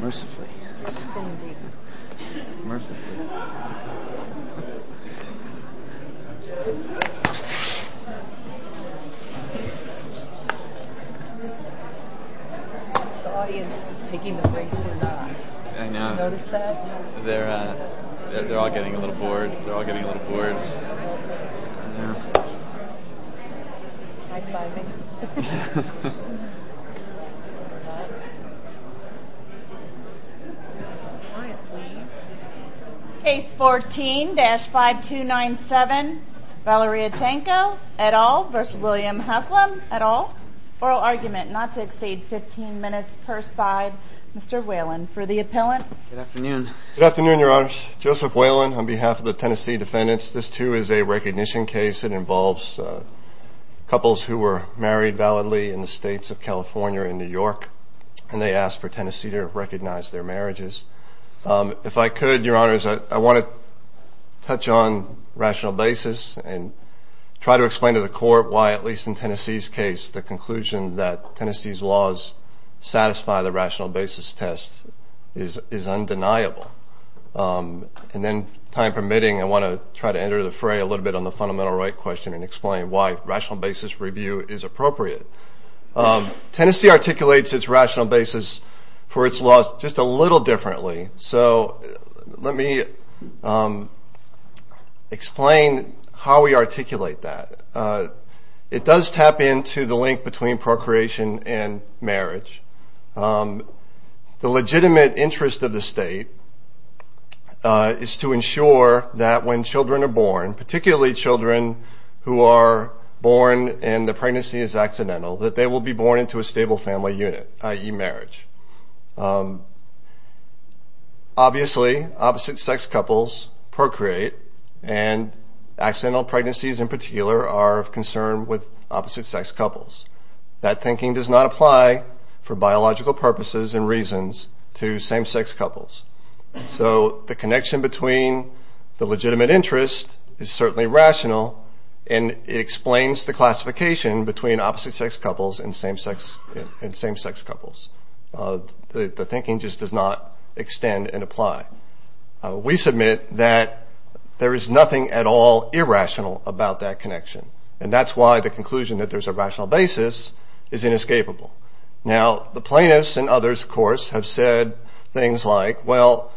Mercifully Mercifully The audience is taking the break. I know. Did you notice that? They're all getting a little bored. They're all getting a little bored. Yeah. High-fiving. Quiet, please. Case 14-5297, Valeria Tanco et al. v. William Haslam et al. Oral argument not to exceed 15 minutes per side. Mr. Whalen for the appellants. Good afternoon. Good afternoon, Your Honors. Joseph Whalen on behalf of the Tennessee defendants. This, too, is a recognition case. It involves couples who were married validly in the states of California and New York, and they asked for Tennessee to recognize their marriages. If I could, Your Honors, I want to touch on rational basis and try to explain to the court why, at least in Tennessee's case, the conclusion that Tennessee's laws satisfy the rational basis test is undeniable. And then, time permitting, I want to try to enter the fray a little bit on the fundamental right question and explain why rational basis review is appropriate. Tennessee articulates its rational basis for its laws just a little differently. So let me explain how we articulate that. It does tap into the link between procreation and marriage. The legitimate interest of the state is to ensure that when children are born, particularly children who are born and the pregnancy is accidental, that they will be born into a stable family unit, i.e. marriage. Obviously, opposite-sex couples procreate, and accidental pregnancies in particular are of concern with opposite-sex couples. That thinking does not apply for biological purposes and reasons to same-sex couples. So the connection between the legitimate interest is certainly rational, and it explains the classification between opposite-sex couples and same-sex couples. The thinking just does not extend and apply. We submit that there is nothing at all irrational about that connection, and that's why the conclusion that there's a rational basis is inescapable. Now, the plaintiffs and others, of course, have said things like, well,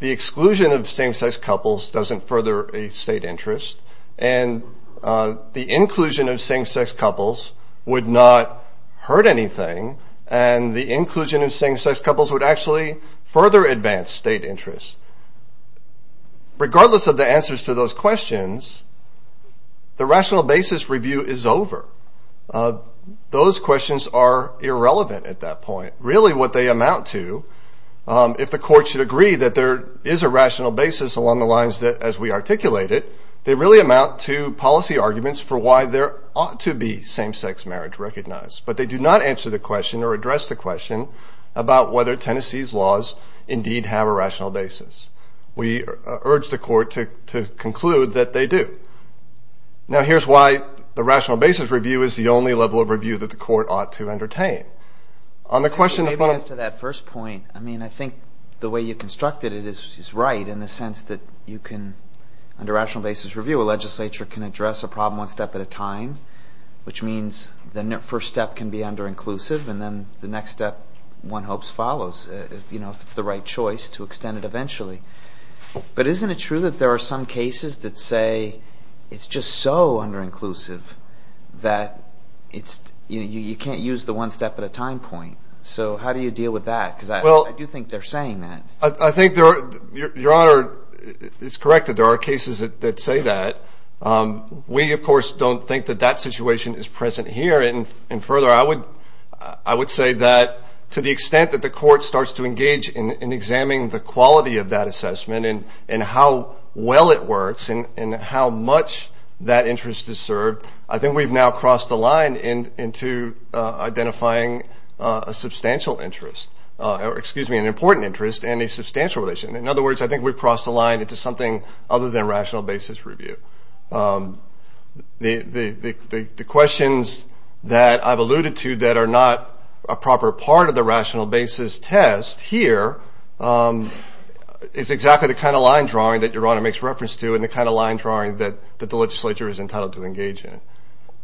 the exclusion of same-sex couples doesn't further a state interest, and the inclusion of same-sex couples would not hurt anything, and the inclusion of same-sex couples would actually further advance state interests. Regardless of the answers to those questions, the rational basis review is over. Those questions are irrelevant at that point. Really what they amount to, if the court should agree that there is a rational basis along the lines that as we articulate it, they really amount to policy arguments for why there ought to be same-sex marriage recognized, about whether Tennessee's laws indeed have a rational basis. We urge the court to conclude that they do. Now, here's why the rational basis review is the only level of review that the court ought to entertain. On the question in front of... Maybe as to that first point, I mean, I think the way you constructed it is right in the sense that you can, under rational basis review, a legislature can address a problem one step at a time, which means the first step can be underinclusive, and then the next step one hopes follows, you know, if it's the right choice to extend it eventually. But isn't it true that there are some cases that say it's just so underinclusive that you can't use the one step at a time point? So how do you deal with that? Because I do think they're saying that. I think your Honor is correct that there are cases that say that. We, of course, don't think that that situation is present here. And further, I would say that to the extent that the court starts to engage in examining the quality of that assessment and how well it works and how much that interest is served, I think we've now crossed the line into identifying a substantial interest, or excuse me, an important interest and a substantial relation. In other words, I think we've crossed the line into something other than rational basis review. The questions that I've alluded to that are not a proper part of the rational basis test here is exactly the kind of line drawing that your Honor makes reference to and the kind of line drawing that the legislature is entitled to engage in.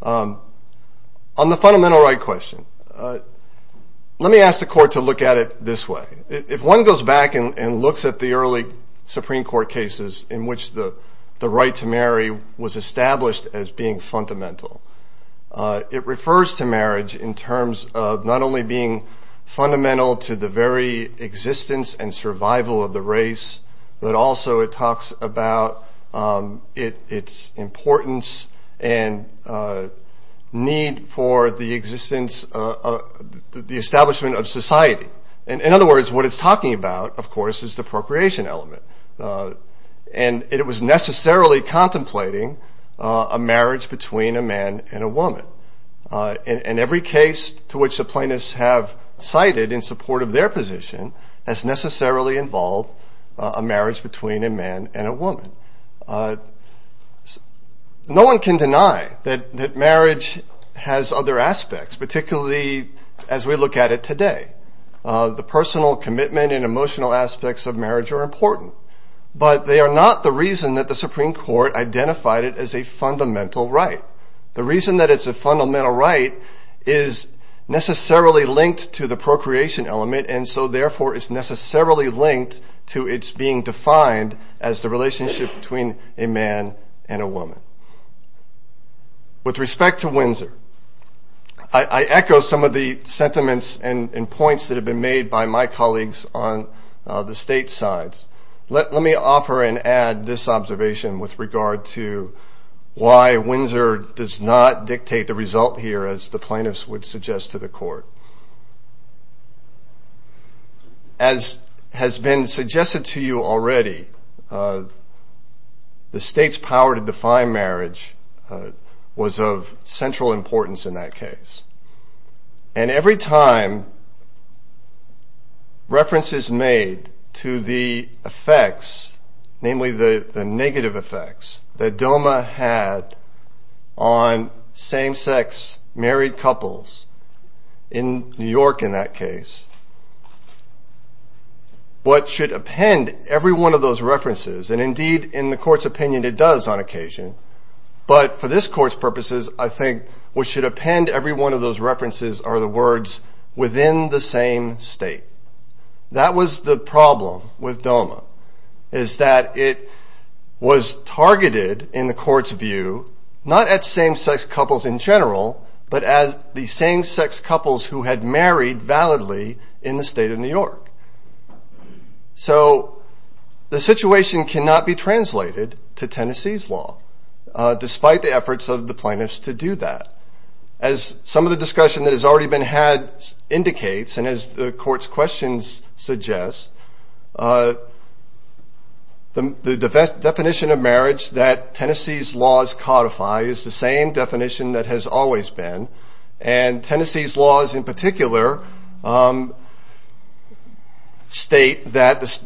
On the fundamental right question, let me ask the court to look at it this way. If one goes back and looks at the early Supreme Court cases in which the right to marry was established as being fundamental, it refers to marriage in terms of not only being fundamental to the very existence and survival of the race, but also it talks about its importance and need for the establishment of society. In other words, what it's talking about, of course, is the procreation element. And it was necessarily contemplating a marriage between a man and a woman. And every case to which the plaintiffs have cited in support of their position has necessarily involved a marriage between a man and a woman. No one can deny that marriage has other aspects, particularly as we look at it today. The personal commitment and emotional aspects of marriage are important. But they are not the reason that the Supreme Court identified it as a fundamental right. The reason that it's a fundamental right is necessarily linked to the procreation element and so therefore is necessarily linked to its being defined With respect to Windsor, I echo some of the sentiments and points that have been made by my colleagues on the state sides. Let me offer and add this observation with regard to why Windsor does not dictate the result here, as the plaintiffs would suggest to the court. As has been suggested to you already, the state's power to define marriage was of central importance in that case. And every time references made to the effects, namely the negative effects that DOMA had on same-sex married couples in New York in that case, what should append every one of those references, and indeed in the court's opinion it does on occasion, but for this court's purposes I think what should append every one of those references are the words within the same state. That was the problem with DOMA, is that it was targeted in the court's view, not at same-sex couples in general, but at the same-sex couples who had married validly in the state of New York. So the situation cannot be translated to Tennessee's law, despite the efforts of the plaintiffs to do that. As some of the discussion that has already been had indicates, and as the court's questions suggest, the definition of marriage that Tennessee's laws codify is the same definition that has always been, and Tennessee's laws in particular state that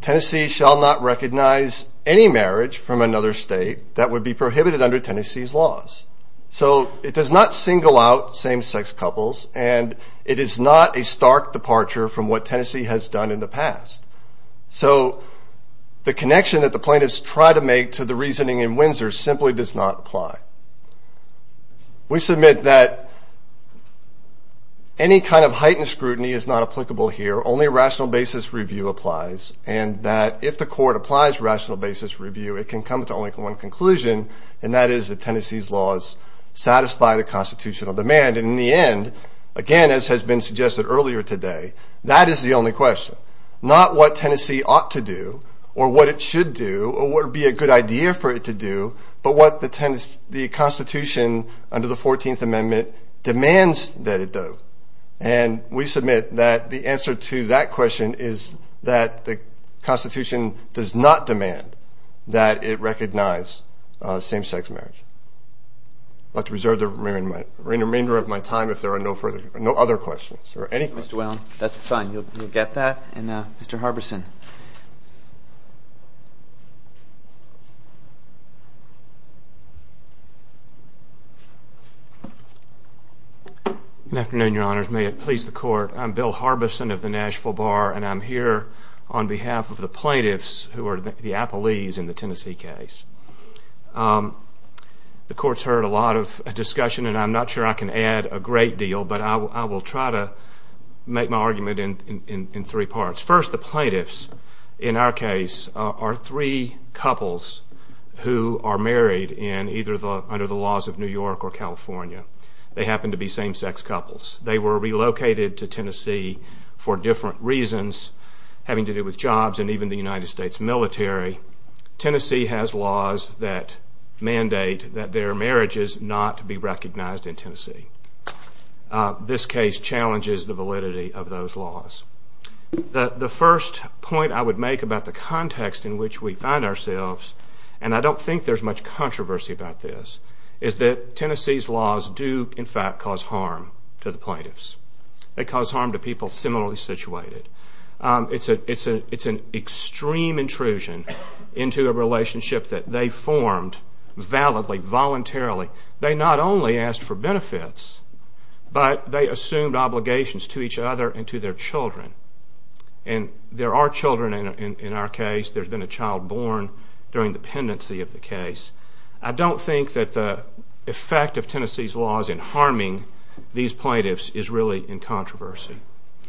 Tennessee shall not recognize any marriage from another state that would be prohibited under Tennessee's laws. So it does not single out same-sex couples, and it is not a stark departure from what Tennessee has done in the past. So the connection that the plaintiffs try to make to the reasoning in Windsor simply does not apply. We submit that any kind of heightened scrutiny is not applicable here. Only rational basis review applies, and that if the court applies rational basis review, it can come to only one conclusion, and that is that Tennessee's laws satisfy the constitutional demand. And in the end, again, as has been suggested earlier today, that is the only question. Not what Tennessee ought to do, or what it should do, or what would be a good idea for it to do, but what the Constitution under the 14th Amendment demands that it do. And we submit that the answer to that question is that the Constitution does not demand that it recognize same-sex marriage. I'd like to reserve the remainder of my time if there are no other questions. Mr. Whelan, that's fine. You'll get that. And Mr. Harbison. Good afternoon, Your Honors. May it please the Court. I'm Bill Harbison of the Nashville Bar, and I'm here on behalf of the plaintiffs who are the appellees in the Tennessee case. The Court's heard a lot of discussion, and I'm not sure I can add a great deal, but I will try to make my argument in three parts. First, the plaintiffs in our case are three couples who are married under the laws of New York or California. They happen to be same-sex couples. They were relocated to Tennessee for different reasons, having to do with jobs and even the United States military. Tennessee has laws that mandate that their marriages not be recognized in Tennessee. This case challenges the validity of those laws. The first point I would make about the context in which we find ourselves, and I don't think there's much controversy about this, is that Tennessee's laws do, in fact, cause harm to the plaintiffs. They cause harm to people similarly situated. It's an extreme intrusion into a relationship that they formed validly, voluntarily. They not only asked for benefits, but they assumed obligations to each other and to their children. And there are children in our case. There's been a child born during the pendency of the case. I don't think that the effect of Tennessee's laws in harming these plaintiffs is really in controversy.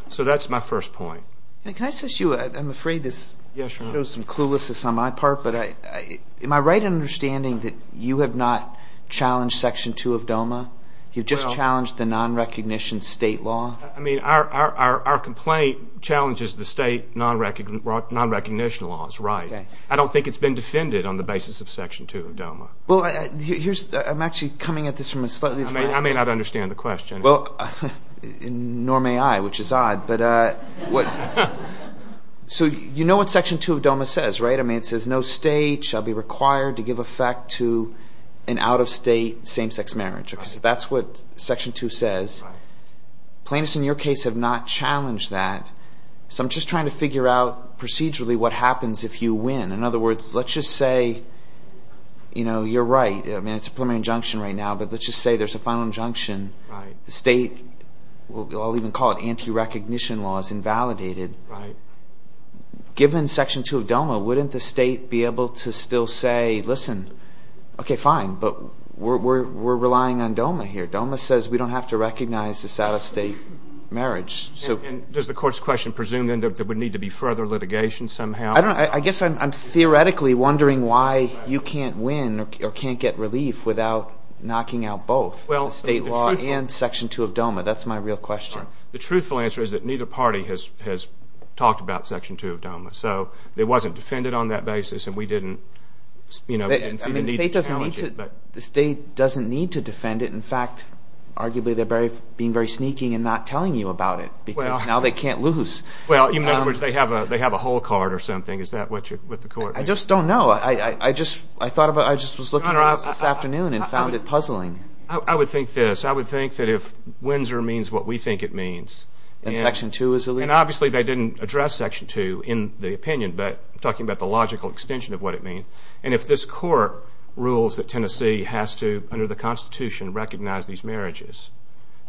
So that's my first point. Can I ask you, I'm afraid this shows some cluelessness on my part, but am I right in understanding that you have not challenged Section 2 of DOMA? You've just challenged the nonrecognition state law? I mean, our complaint challenges the state nonrecognition laws, right. I don't think it's been defended on the basis of Section 2 of DOMA. Well, I'm actually coming at this from a slightly different angle. I may not understand the question. Well, nor may I, which is odd. So you know what Section 2 of DOMA says, right? I mean, it says no state shall be required to give effect to an out-of-state same-sex marriage. That's what Section 2 says. Plaintiffs in your case have not challenged that. So I'm just trying to figure out procedurally what happens if you win. In other words, let's just say, you know, you're right. I mean, it's a preliminary injunction right now, but let's just say there's a final injunction. The state, I'll even call it anti-recognition law, is invalidated. Given Section 2 of DOMA, wouldn't the state be able to still say, listen, okay, fine. But we're relying on DOMA here. DOMA says we don't have to recognize this out-of-state marriage. And does the court's question presume then that there would need to be further litigation somehow? I don't know. I guess I'm theoretically wondering why you can't win or can't get relief without knocking out both. State law and Section 2 of DOMA. That's my real question. The truthful answer is that neither party has talked about Section 2 of DOMA. So it wasn't defended on that basis, and we didn't see the need to challenge it. The state doesn't need to defend it. In fact, arguably they're being very sneaking and not telling you about it because now they can't lose. Well, in other words, they have a whole card or something. Is that what the court thinks? I just was looking around this afternoon and found it puzzling. I would think this. I would think that if Windsor means what we think it means. And Section 2 is illegal? And obviously they didn't address Section 2 in the opinion, but I'm talking about the logical extension of what it means. And if this court rules that Tennessee has to, under the Constitution, recognize these marriages,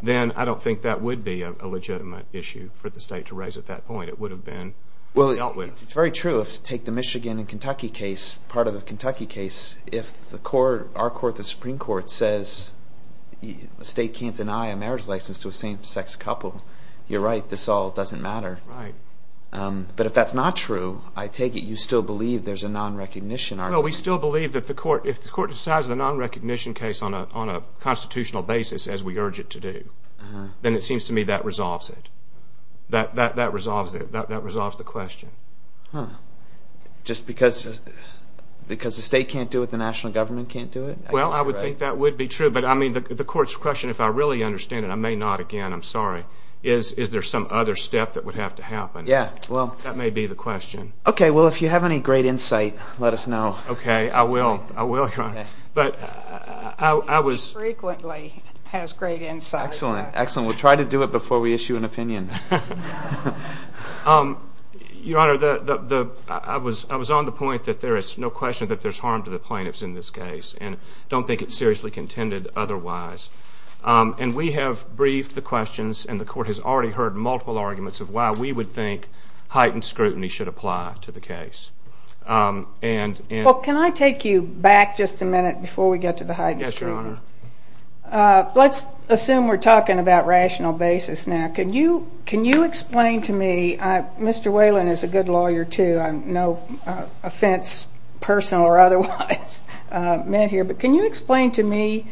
then I don't think that would be a legitimate issue for the state to raise at that point. It would have been dealt with. Well, it's very true. If you take the Michigan and Kentucky case, part of the Kentucky case, if our court, the Supreme Court, says the state can't deny a marriage license to a same-sex couple, you're right, this all doesn't matter. Right. But if that's not true, I take it you still believe there's a non-recognition argument. Well, we still believe that if the court decides a non-recognition case on a constitutional basis, as we urge it to do, then it seems to me that resolves it. That resolves the question. Huh. Just because the state can't do it, the national government can't do it? Well, I would think that would be true. But, I mean, the court's question, if I really understand it, I may not again. I'm sorry. Is there some other step that would have to happen? Yeah. That may be the question. Okay. Well, if you have any great insight, let us know. Okay. I will. I will, Your Honor. He frequently has great insight. Excellent. Excellent. We'll try to do it before we issue an opinion. Your Honor, I was on the point that there is no question that there's harm to the plaintiffs in this case and don't think it's seriously contended otherwise. And we have briefed the questions, and the court has already heard multiple arguments of why we would think heightened scrutiny should apply to the case. Well, can I take you back just a minute before we get to the heightened scrutiny? Yes, Your Honor. Let's assume we're talking about rational basis now. Can you explain to me? Mr. Whalen is a good lawyer, too. No offense personal or otherwise meant here, but can you explain to me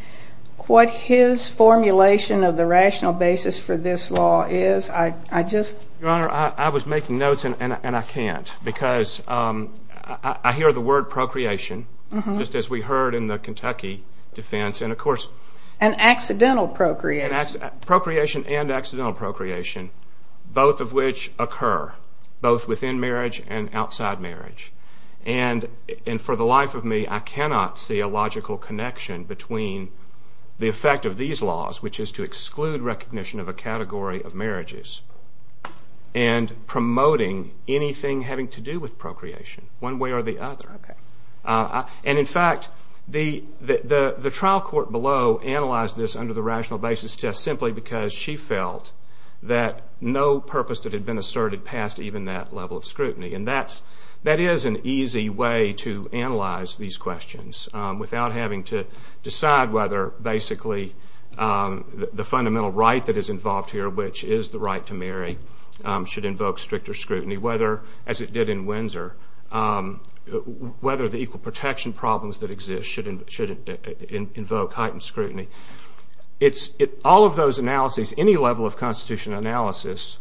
what his formulation of the rational basis for this law is? Your Honor, I was making notes, and I can't because I hear the word procreation, just as we heard in the Kentucky defense. And, of course, And accidental procreation. Procreation and accidental procreation, both of which occur, both within marriage and outside marriage. And for the life of me, I cannot see a logical connection between the effect of these laws, which is to exclude recognition of a category of marriages, and promoting anything having to do with procreation one way or the other. And, in fact, the trial court below analyzed this under the rational basis test simply because she felt that no purpose that had been asserted passed even that level of scrutiny. And that is an easy way to analyze these questions without having to decide whether, basically, the fundamental right that is involved here, which is the right to marry, should invoke stricter scrutiny, whether, as it did in Windsor, whether the equal protection problems that exist should invoke heightened scrutiny. All of those analyses, any level of Constitution analysis,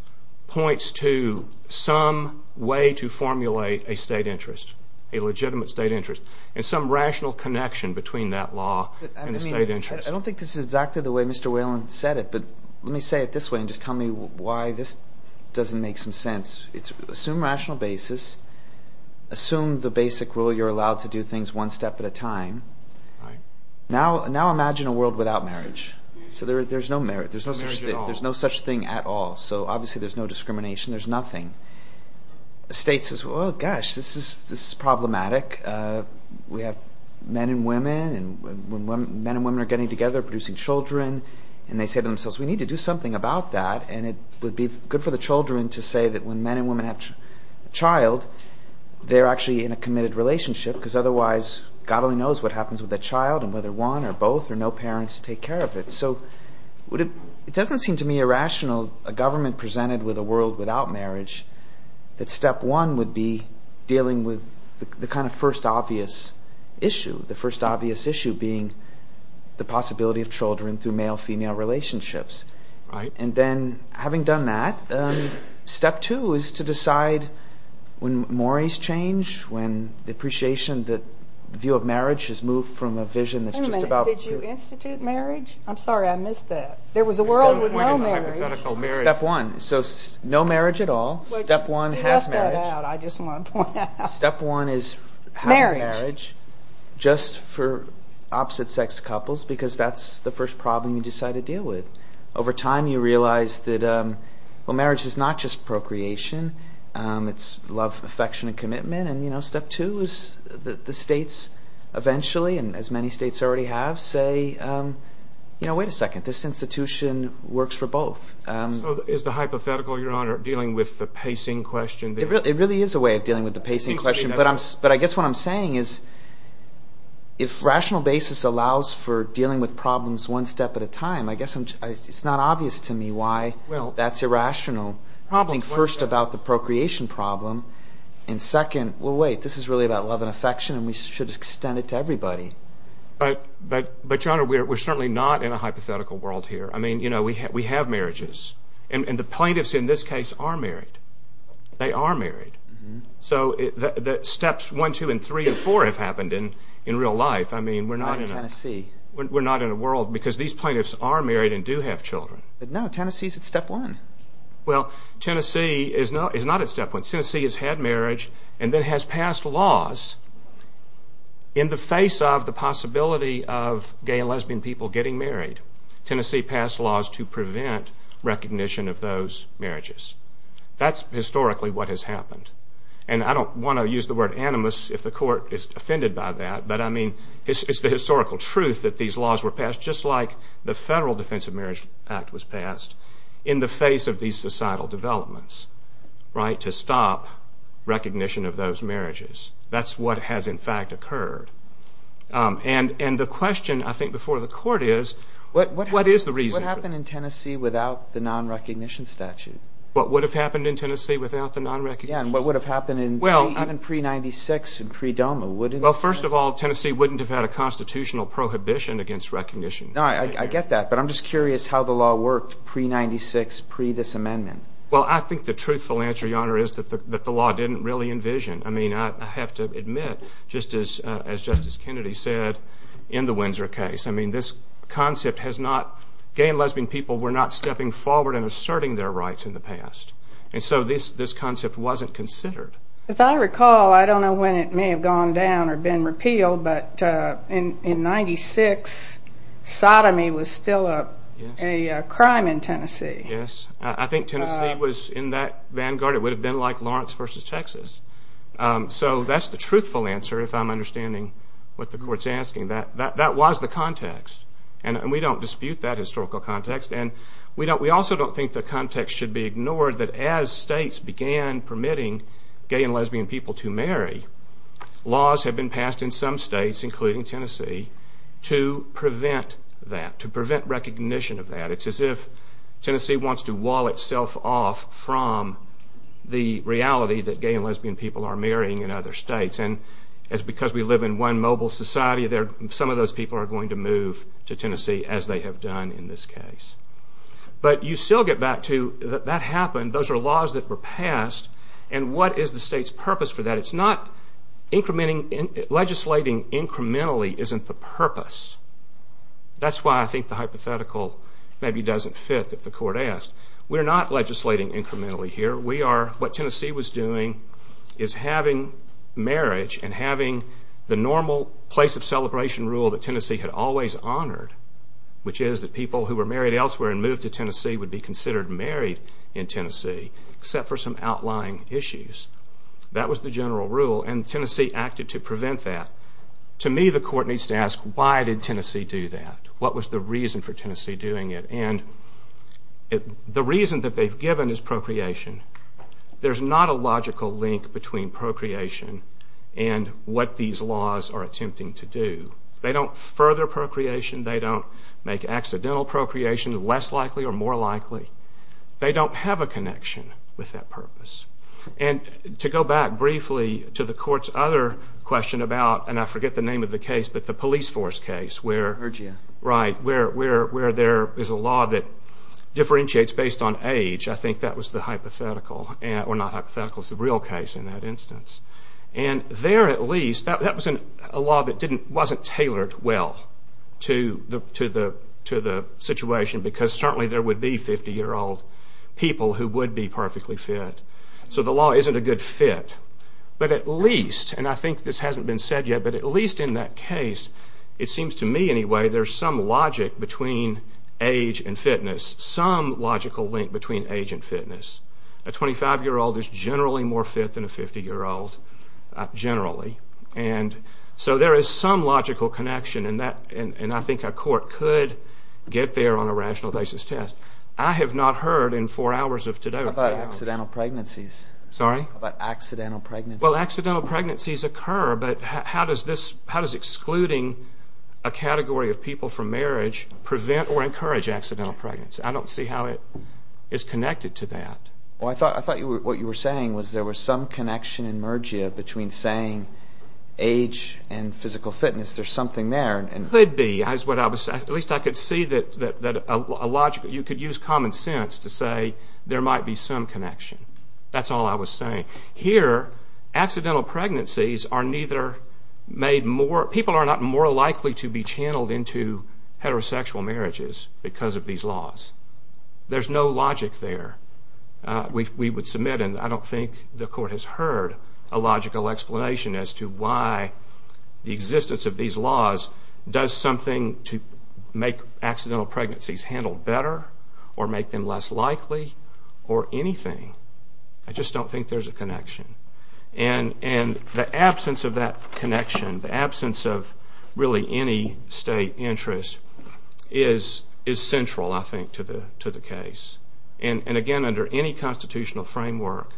points to some way to formulate a state interest, a legitimate state interest, and some rational connection between that law and the state interest. I don't think this is exactly the way Mr. Whelan said it, but let me say it this way and just tell me why this doesn't make some sense. Assume rational basis. Assume the basic rule you're allowed to do things one step at a time. Now imagine a world without marriage. So there's no such thing at all. So, obviously, there's no discrimination. There's nothing. The state says, well, gosh, this is problematic. We have men and women, and when men and women are getting together, producing children, and they say to themselves, we need to do something about that, and it would be good for the children to say that when men and women have a child, they're actually in a committed relationship, because otherwise God only knows what happens with that child and whether one or both or no parents take care of it. So it doesn't seem to me irrational, a government presented with a world without marriage, that step one would be dealing with the kind of first obvious issue, the first obvious issue being the possibility of children through male-female relationships. And then having done that, step two is to decide when mores change, when the appreciation, the view of marriage has moved from a vision that's just about... Wait a minute. Did you institute marriage? I'm sorry I missed that. There was a world with no marriage. Step one. So no marriage at all. Step one has marriage. Well, you left that out. I just want to point that out. Step one is having marriage just for opposite-sex couples, because that's the first problem you decide to deal with. Over time, you realize that marriage is not just procreation. It's love, affection, and commitment. And step two is that the states eventually, and as many states already have, say, wait a second, this institution works for both. So is the hypothetical, Your Honor, dealing with the pacing question? It really is a way of dealing with the pacing question, but I guess what I'm saying is if rational basis allows for dealing with problems one step at a time, I guess it's not obvious to me why that's irrational. First, about the procreation problem, and second, well, wait, this is really about love and affection, and we should extend it to everybody. But, Your Honor, we're certainly not in a hypothetical world here. I mean, you know, we have marriages, and the plaintiffs in this case are married. They are married. So steps one, two, and three, and four have happened in real life. Not in Tennessee. We're not in a world, because these plaintiffs are married and do have children. But no, Tennessee's at step one. Well, Tennessee is not at step one. Tennessee has had marriage and then has passed laws in the face of the possibility of gay and lesbian people getting married. Tennessee passed laws to prevent recognition of those marriages. That's historically what has happened. And I don't want to use the word animus if the court is offended by that, but, I mean, it's the historical truth that these laws were passed, just like the Federal Defense of Marriage Act was passed, in the face of these societal developments, right, to stop recognition of those marriages. That's what has, in fact, occurred. And the question, I think, before the court is, what is the reason? What would have happened in Tennessee without the non-recognition statute? What would have happened in Tennessee without the non-recognition statute? Yeah, and what would have happened pre-'96 and pre-DOMA? Well, first of all, Tennessee wouldn't have had a constitutional prohibition against recognition. I get that, but I'm just curious how the law worked pre-'96, pre-this amendment. Well, I think the truthful answer, Your Honor, is that the law didn't really envision. I mean, I have to admit, just as Justice Kennedy said in the Windsor case, I mean, this concept has not, gay and lesbian people were not stepping forward and asserting their rights in the past, and so this concept wasn't considered. As I recall, I don't know when it may have gone down or been repealed, but in 96, sodomy was still a crime in Tennessee. Yes, I think Tennessee was in that vanguard. It would have been like Lawrence v. Texas. So that's the truthful answer, if I'm understanding what the court's asking. That was the context, and we don't dispute that historical context, and we also don't think the context should be ignored, that as states began permitting gay and lesbian people to marry, laws have been passed in some states, including Tennessee, to prevent that, to prevent recognition of that. It's as if Tennessee wants to wall itself off from the reality that gay and lesbian people are marrying in other states, and as because we live in one mobile society, some of those people are going to move to Tennessee, as they have done in this case. But you still get back to that happened, those are laws that were passed, and what is the state's purpose for that? It's not incrementing, legislating incrementally isn't the purpose. That's why I think the hypothetical maybe doesn't fit that the court asked. We're not legislating incrementally here. What Tennessee was doing is having marriage and having the normal place of celebration rule that Tennessee had always honored, which is that people who were married elsewhere and moved to Tennessee would be considered married in Tennessee, except for some outlying issues. That was the general rule, and Tennessee acted to prevent that. To me, the court needs to ask, why did Tennessee do that? What was the reason for Tennessee doing it? The reason that they've given is procreation. There's not a logical link between procreation and what these laws are attempting to do. They don't further procreation. They don't make accidental procreation less likely or more likely. They don't have a connection with that purpose. To go back briefly to the court's other question about, and I forget the name of the case, but the police force case, where there is a law that differentiates based on age. I think that was the hypothetical, or not hypothetical, it's the real case in that instance. There at least, that was a law that wasn't tailored well to the situation because certainly there would be 50-year-old people who would be perfectly fit. So the law isn't a good fit. But at least, and I think this hasn't been said yet, but at least in that case, it seems to me anyway, there's some logic between age and fitness, some logical link between age and fitness. A 25-year-old is generally more fit than a 50-year-old, generally. So there is some logical connection, and I think a court could get there on a rational basis test. I have not heard in four hours of today. How about accidental pregnancies? Sorry? How about accidental pregnancies? Well, accidental pregnancies occur, but how does excluding a category of people from marriage prevent or encourage accidental pregnancy? I don't see how it is connected to that. Well, I thought what you were saying was there was some connection in Mergia between saying age and physical fitness. There's something there. Could be. At least I could see that you could use common sense to say there might be some connection. That's all I was saying. Here, accidental pregnancies are neither made more – people are not more likely to be channeled into heterosexual marriages because of these laws. There's no logic there. We would submit, and I don't think the court has heard, a logical explanation as to why the existence of these laws does something to make accidental pregnancies handled better or make them less likely or anything. I just don't think there's a connection. And the absence of that connection, the absence of really any state interest, is central, I think, to the case. And, again, under any constitutional framework,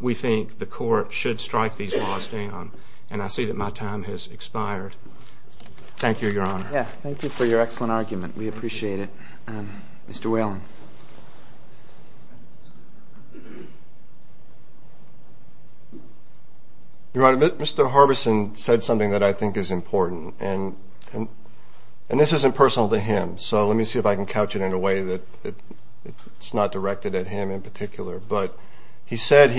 we think the court should strike these laws down. And I see that my time has expired. Thank you, Your Honor. Thank you for your excellent argument. We appreciate it. Mr. Whelan. Your Honor, Mr. Harbison said something that I think is important, and this isn't personal to him, so let me see if I can couch it in a way that it's not directed at him in particular. But he said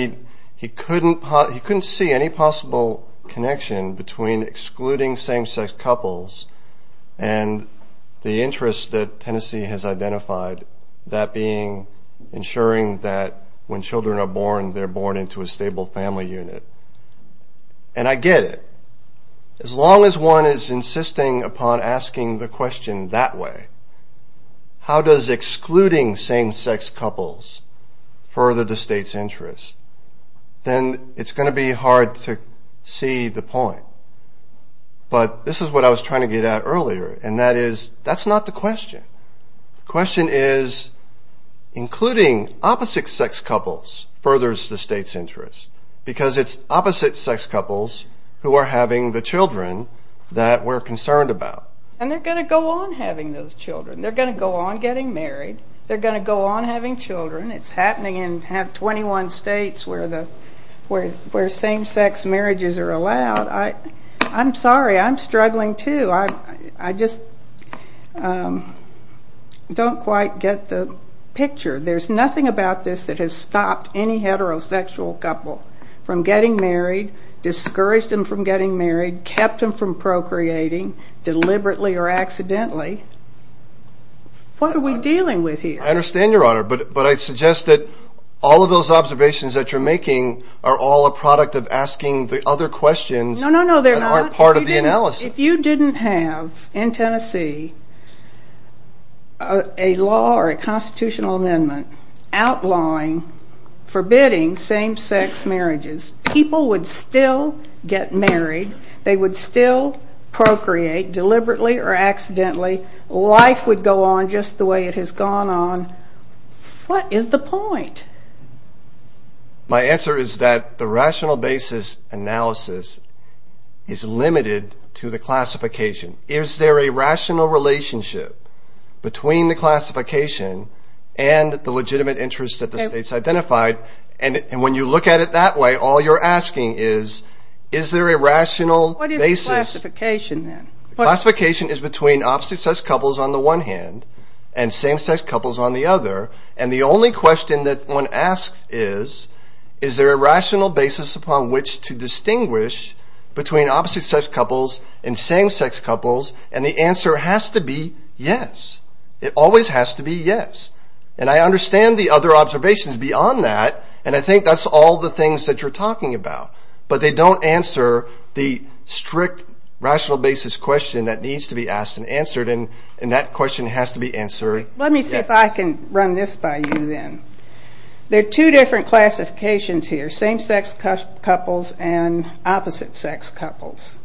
he couldn't see any possible connection between excluding same-sex couples and the interest that Tennessee has identified, that being ensuring that when children are born, they're born into a stable family unit. And I get it. As long as one is insisting upon asking the question that way, how does excluding same-sex couples further the state's interest, then it's going to be hard to see the point. But this is what I was trying to get at earlier, and that is that's not the question. The question is including opposite-sex couples furthers the state's interest because it's opposite-sex couples who are having the children that we're concerned about. And they're going to go on having those children. They're going to go on getting married. They're going to go on having children. It's happening in 21 states where same-sex marriages are allowed. I'm sorry, I'm struggling too. I just don't quite get the picture. There's nothing about this that has stopped any heterosexual couple from getting married, discouraged them from getting married, kept them from procreating deliberately or accidentally. I understand, Your Honor. But I suggest that all of those observations that you're making are all a product of asking the other questions that aren't part of the analysis. No, no, no, they're not. If you didn't have in Tennessee a law or a constitutional amendment outlawing forbidding same-sex marriages, people would still get married. They would still procreate deliberately or accidentally. Life would go on just the way it has gone on. What is the point? My answer is that the rational basis analysis is limited to the classification. Is there a rational relationship between the classification and the legitimate interest that the states identified? And when you look at it that way, all you're asking is, is there a rational basis? What is the classification then? The classification is between opposite-sex couples on the one hand and same-sex couples on the other. And the only question that one asks is, is there a rational basis upon which to distinguish between opposite-sex couples and same-sex couples? And the answer has to be yes. It always has to be yes. And I understand the other observations beyond that, and I think that's all the things that you're talking about. But they don't answer the strict rational basis question that needs to be asked and answered, and that question has to be answered yes. Let me see if I can run this by you then. There are two different classifications here, same-sex couples and opposite-sex couples.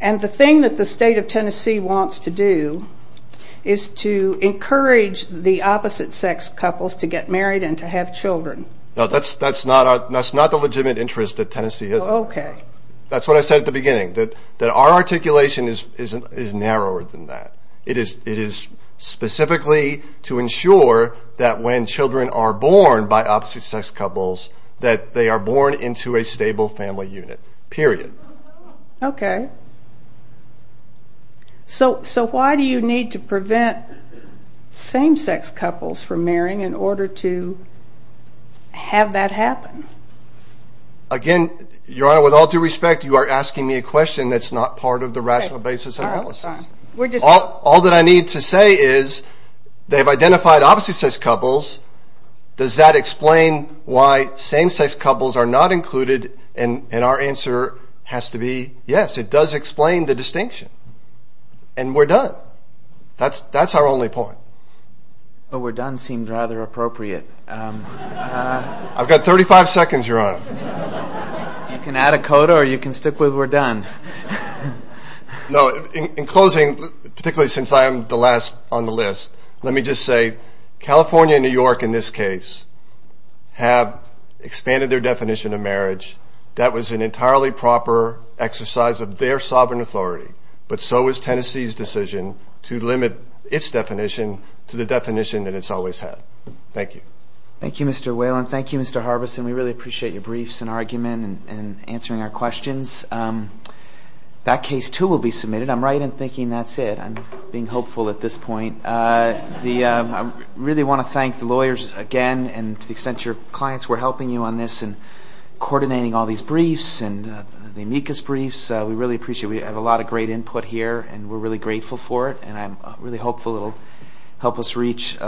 And the thing that the state of Tennessee wants to do is to encourage the opposite-sex couples to get married and to have children. No, that's not the legitimate interest that Tennessee has. Oh, okay. That's what I said at the beginning, that our articulation is narrower than that. It is specifically to ensure that when children are born by opposite-sex couples that they are born into a stable family unit, period. Okay. Again, Your Honor, with all due respect, you are asking me a question that's not part of the rational basis analysis. All that I need to say is they've identified opposite-sex couples. Does that explain why same-sex couples are not included? And our answer has to be yes. It does explain the distinction. And we're done. That's our only point. Well, we're done seemed rather appropriate. I've got 35 seconds, Your Honor. You can add a coda or you can stick with we're done. No, in closing, particularly since I am the last on the list, let me just say California and New York in this case have expanded their definition of marriage. That was an entirely proper exercise of their sovereign authority, but so was Tennessee's decision to limit its definition to the definition that it's always had. Thank you. Thank you, Mr. Whalen. Thank you, Mr. Harbison. We really appreciate your briefs and argument and answering our questions. That case too will be submitted. I'm right in thinking that's it. I'm being hopeful at this point. I really want to thank the lawyers again and to the extent your clients were helping you on this and coordinating all these briefs and the amicus briefs. We really appreciate it. We have a lot of great input here, and we're really grateful for it, and I'm really hopeful it will help us reach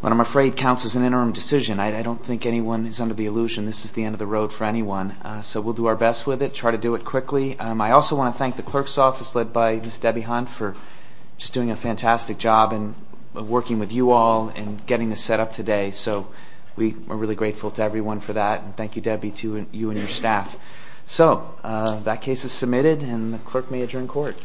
what I'm afraid counts as an interim decision. I don't think anyone is under the illusion this is the end of the road for anyone, so we'll do our best with it, try to do it quickly. I also want to thank the clerk's office led by Ms. Debbie Hunt for just doing a fantastic job in working with you all and getting this set up today. So we're really grateful to everyone for that, and thank you, Debbie, to you and your staff. So that case is submitted, and the clerk may adjourn court.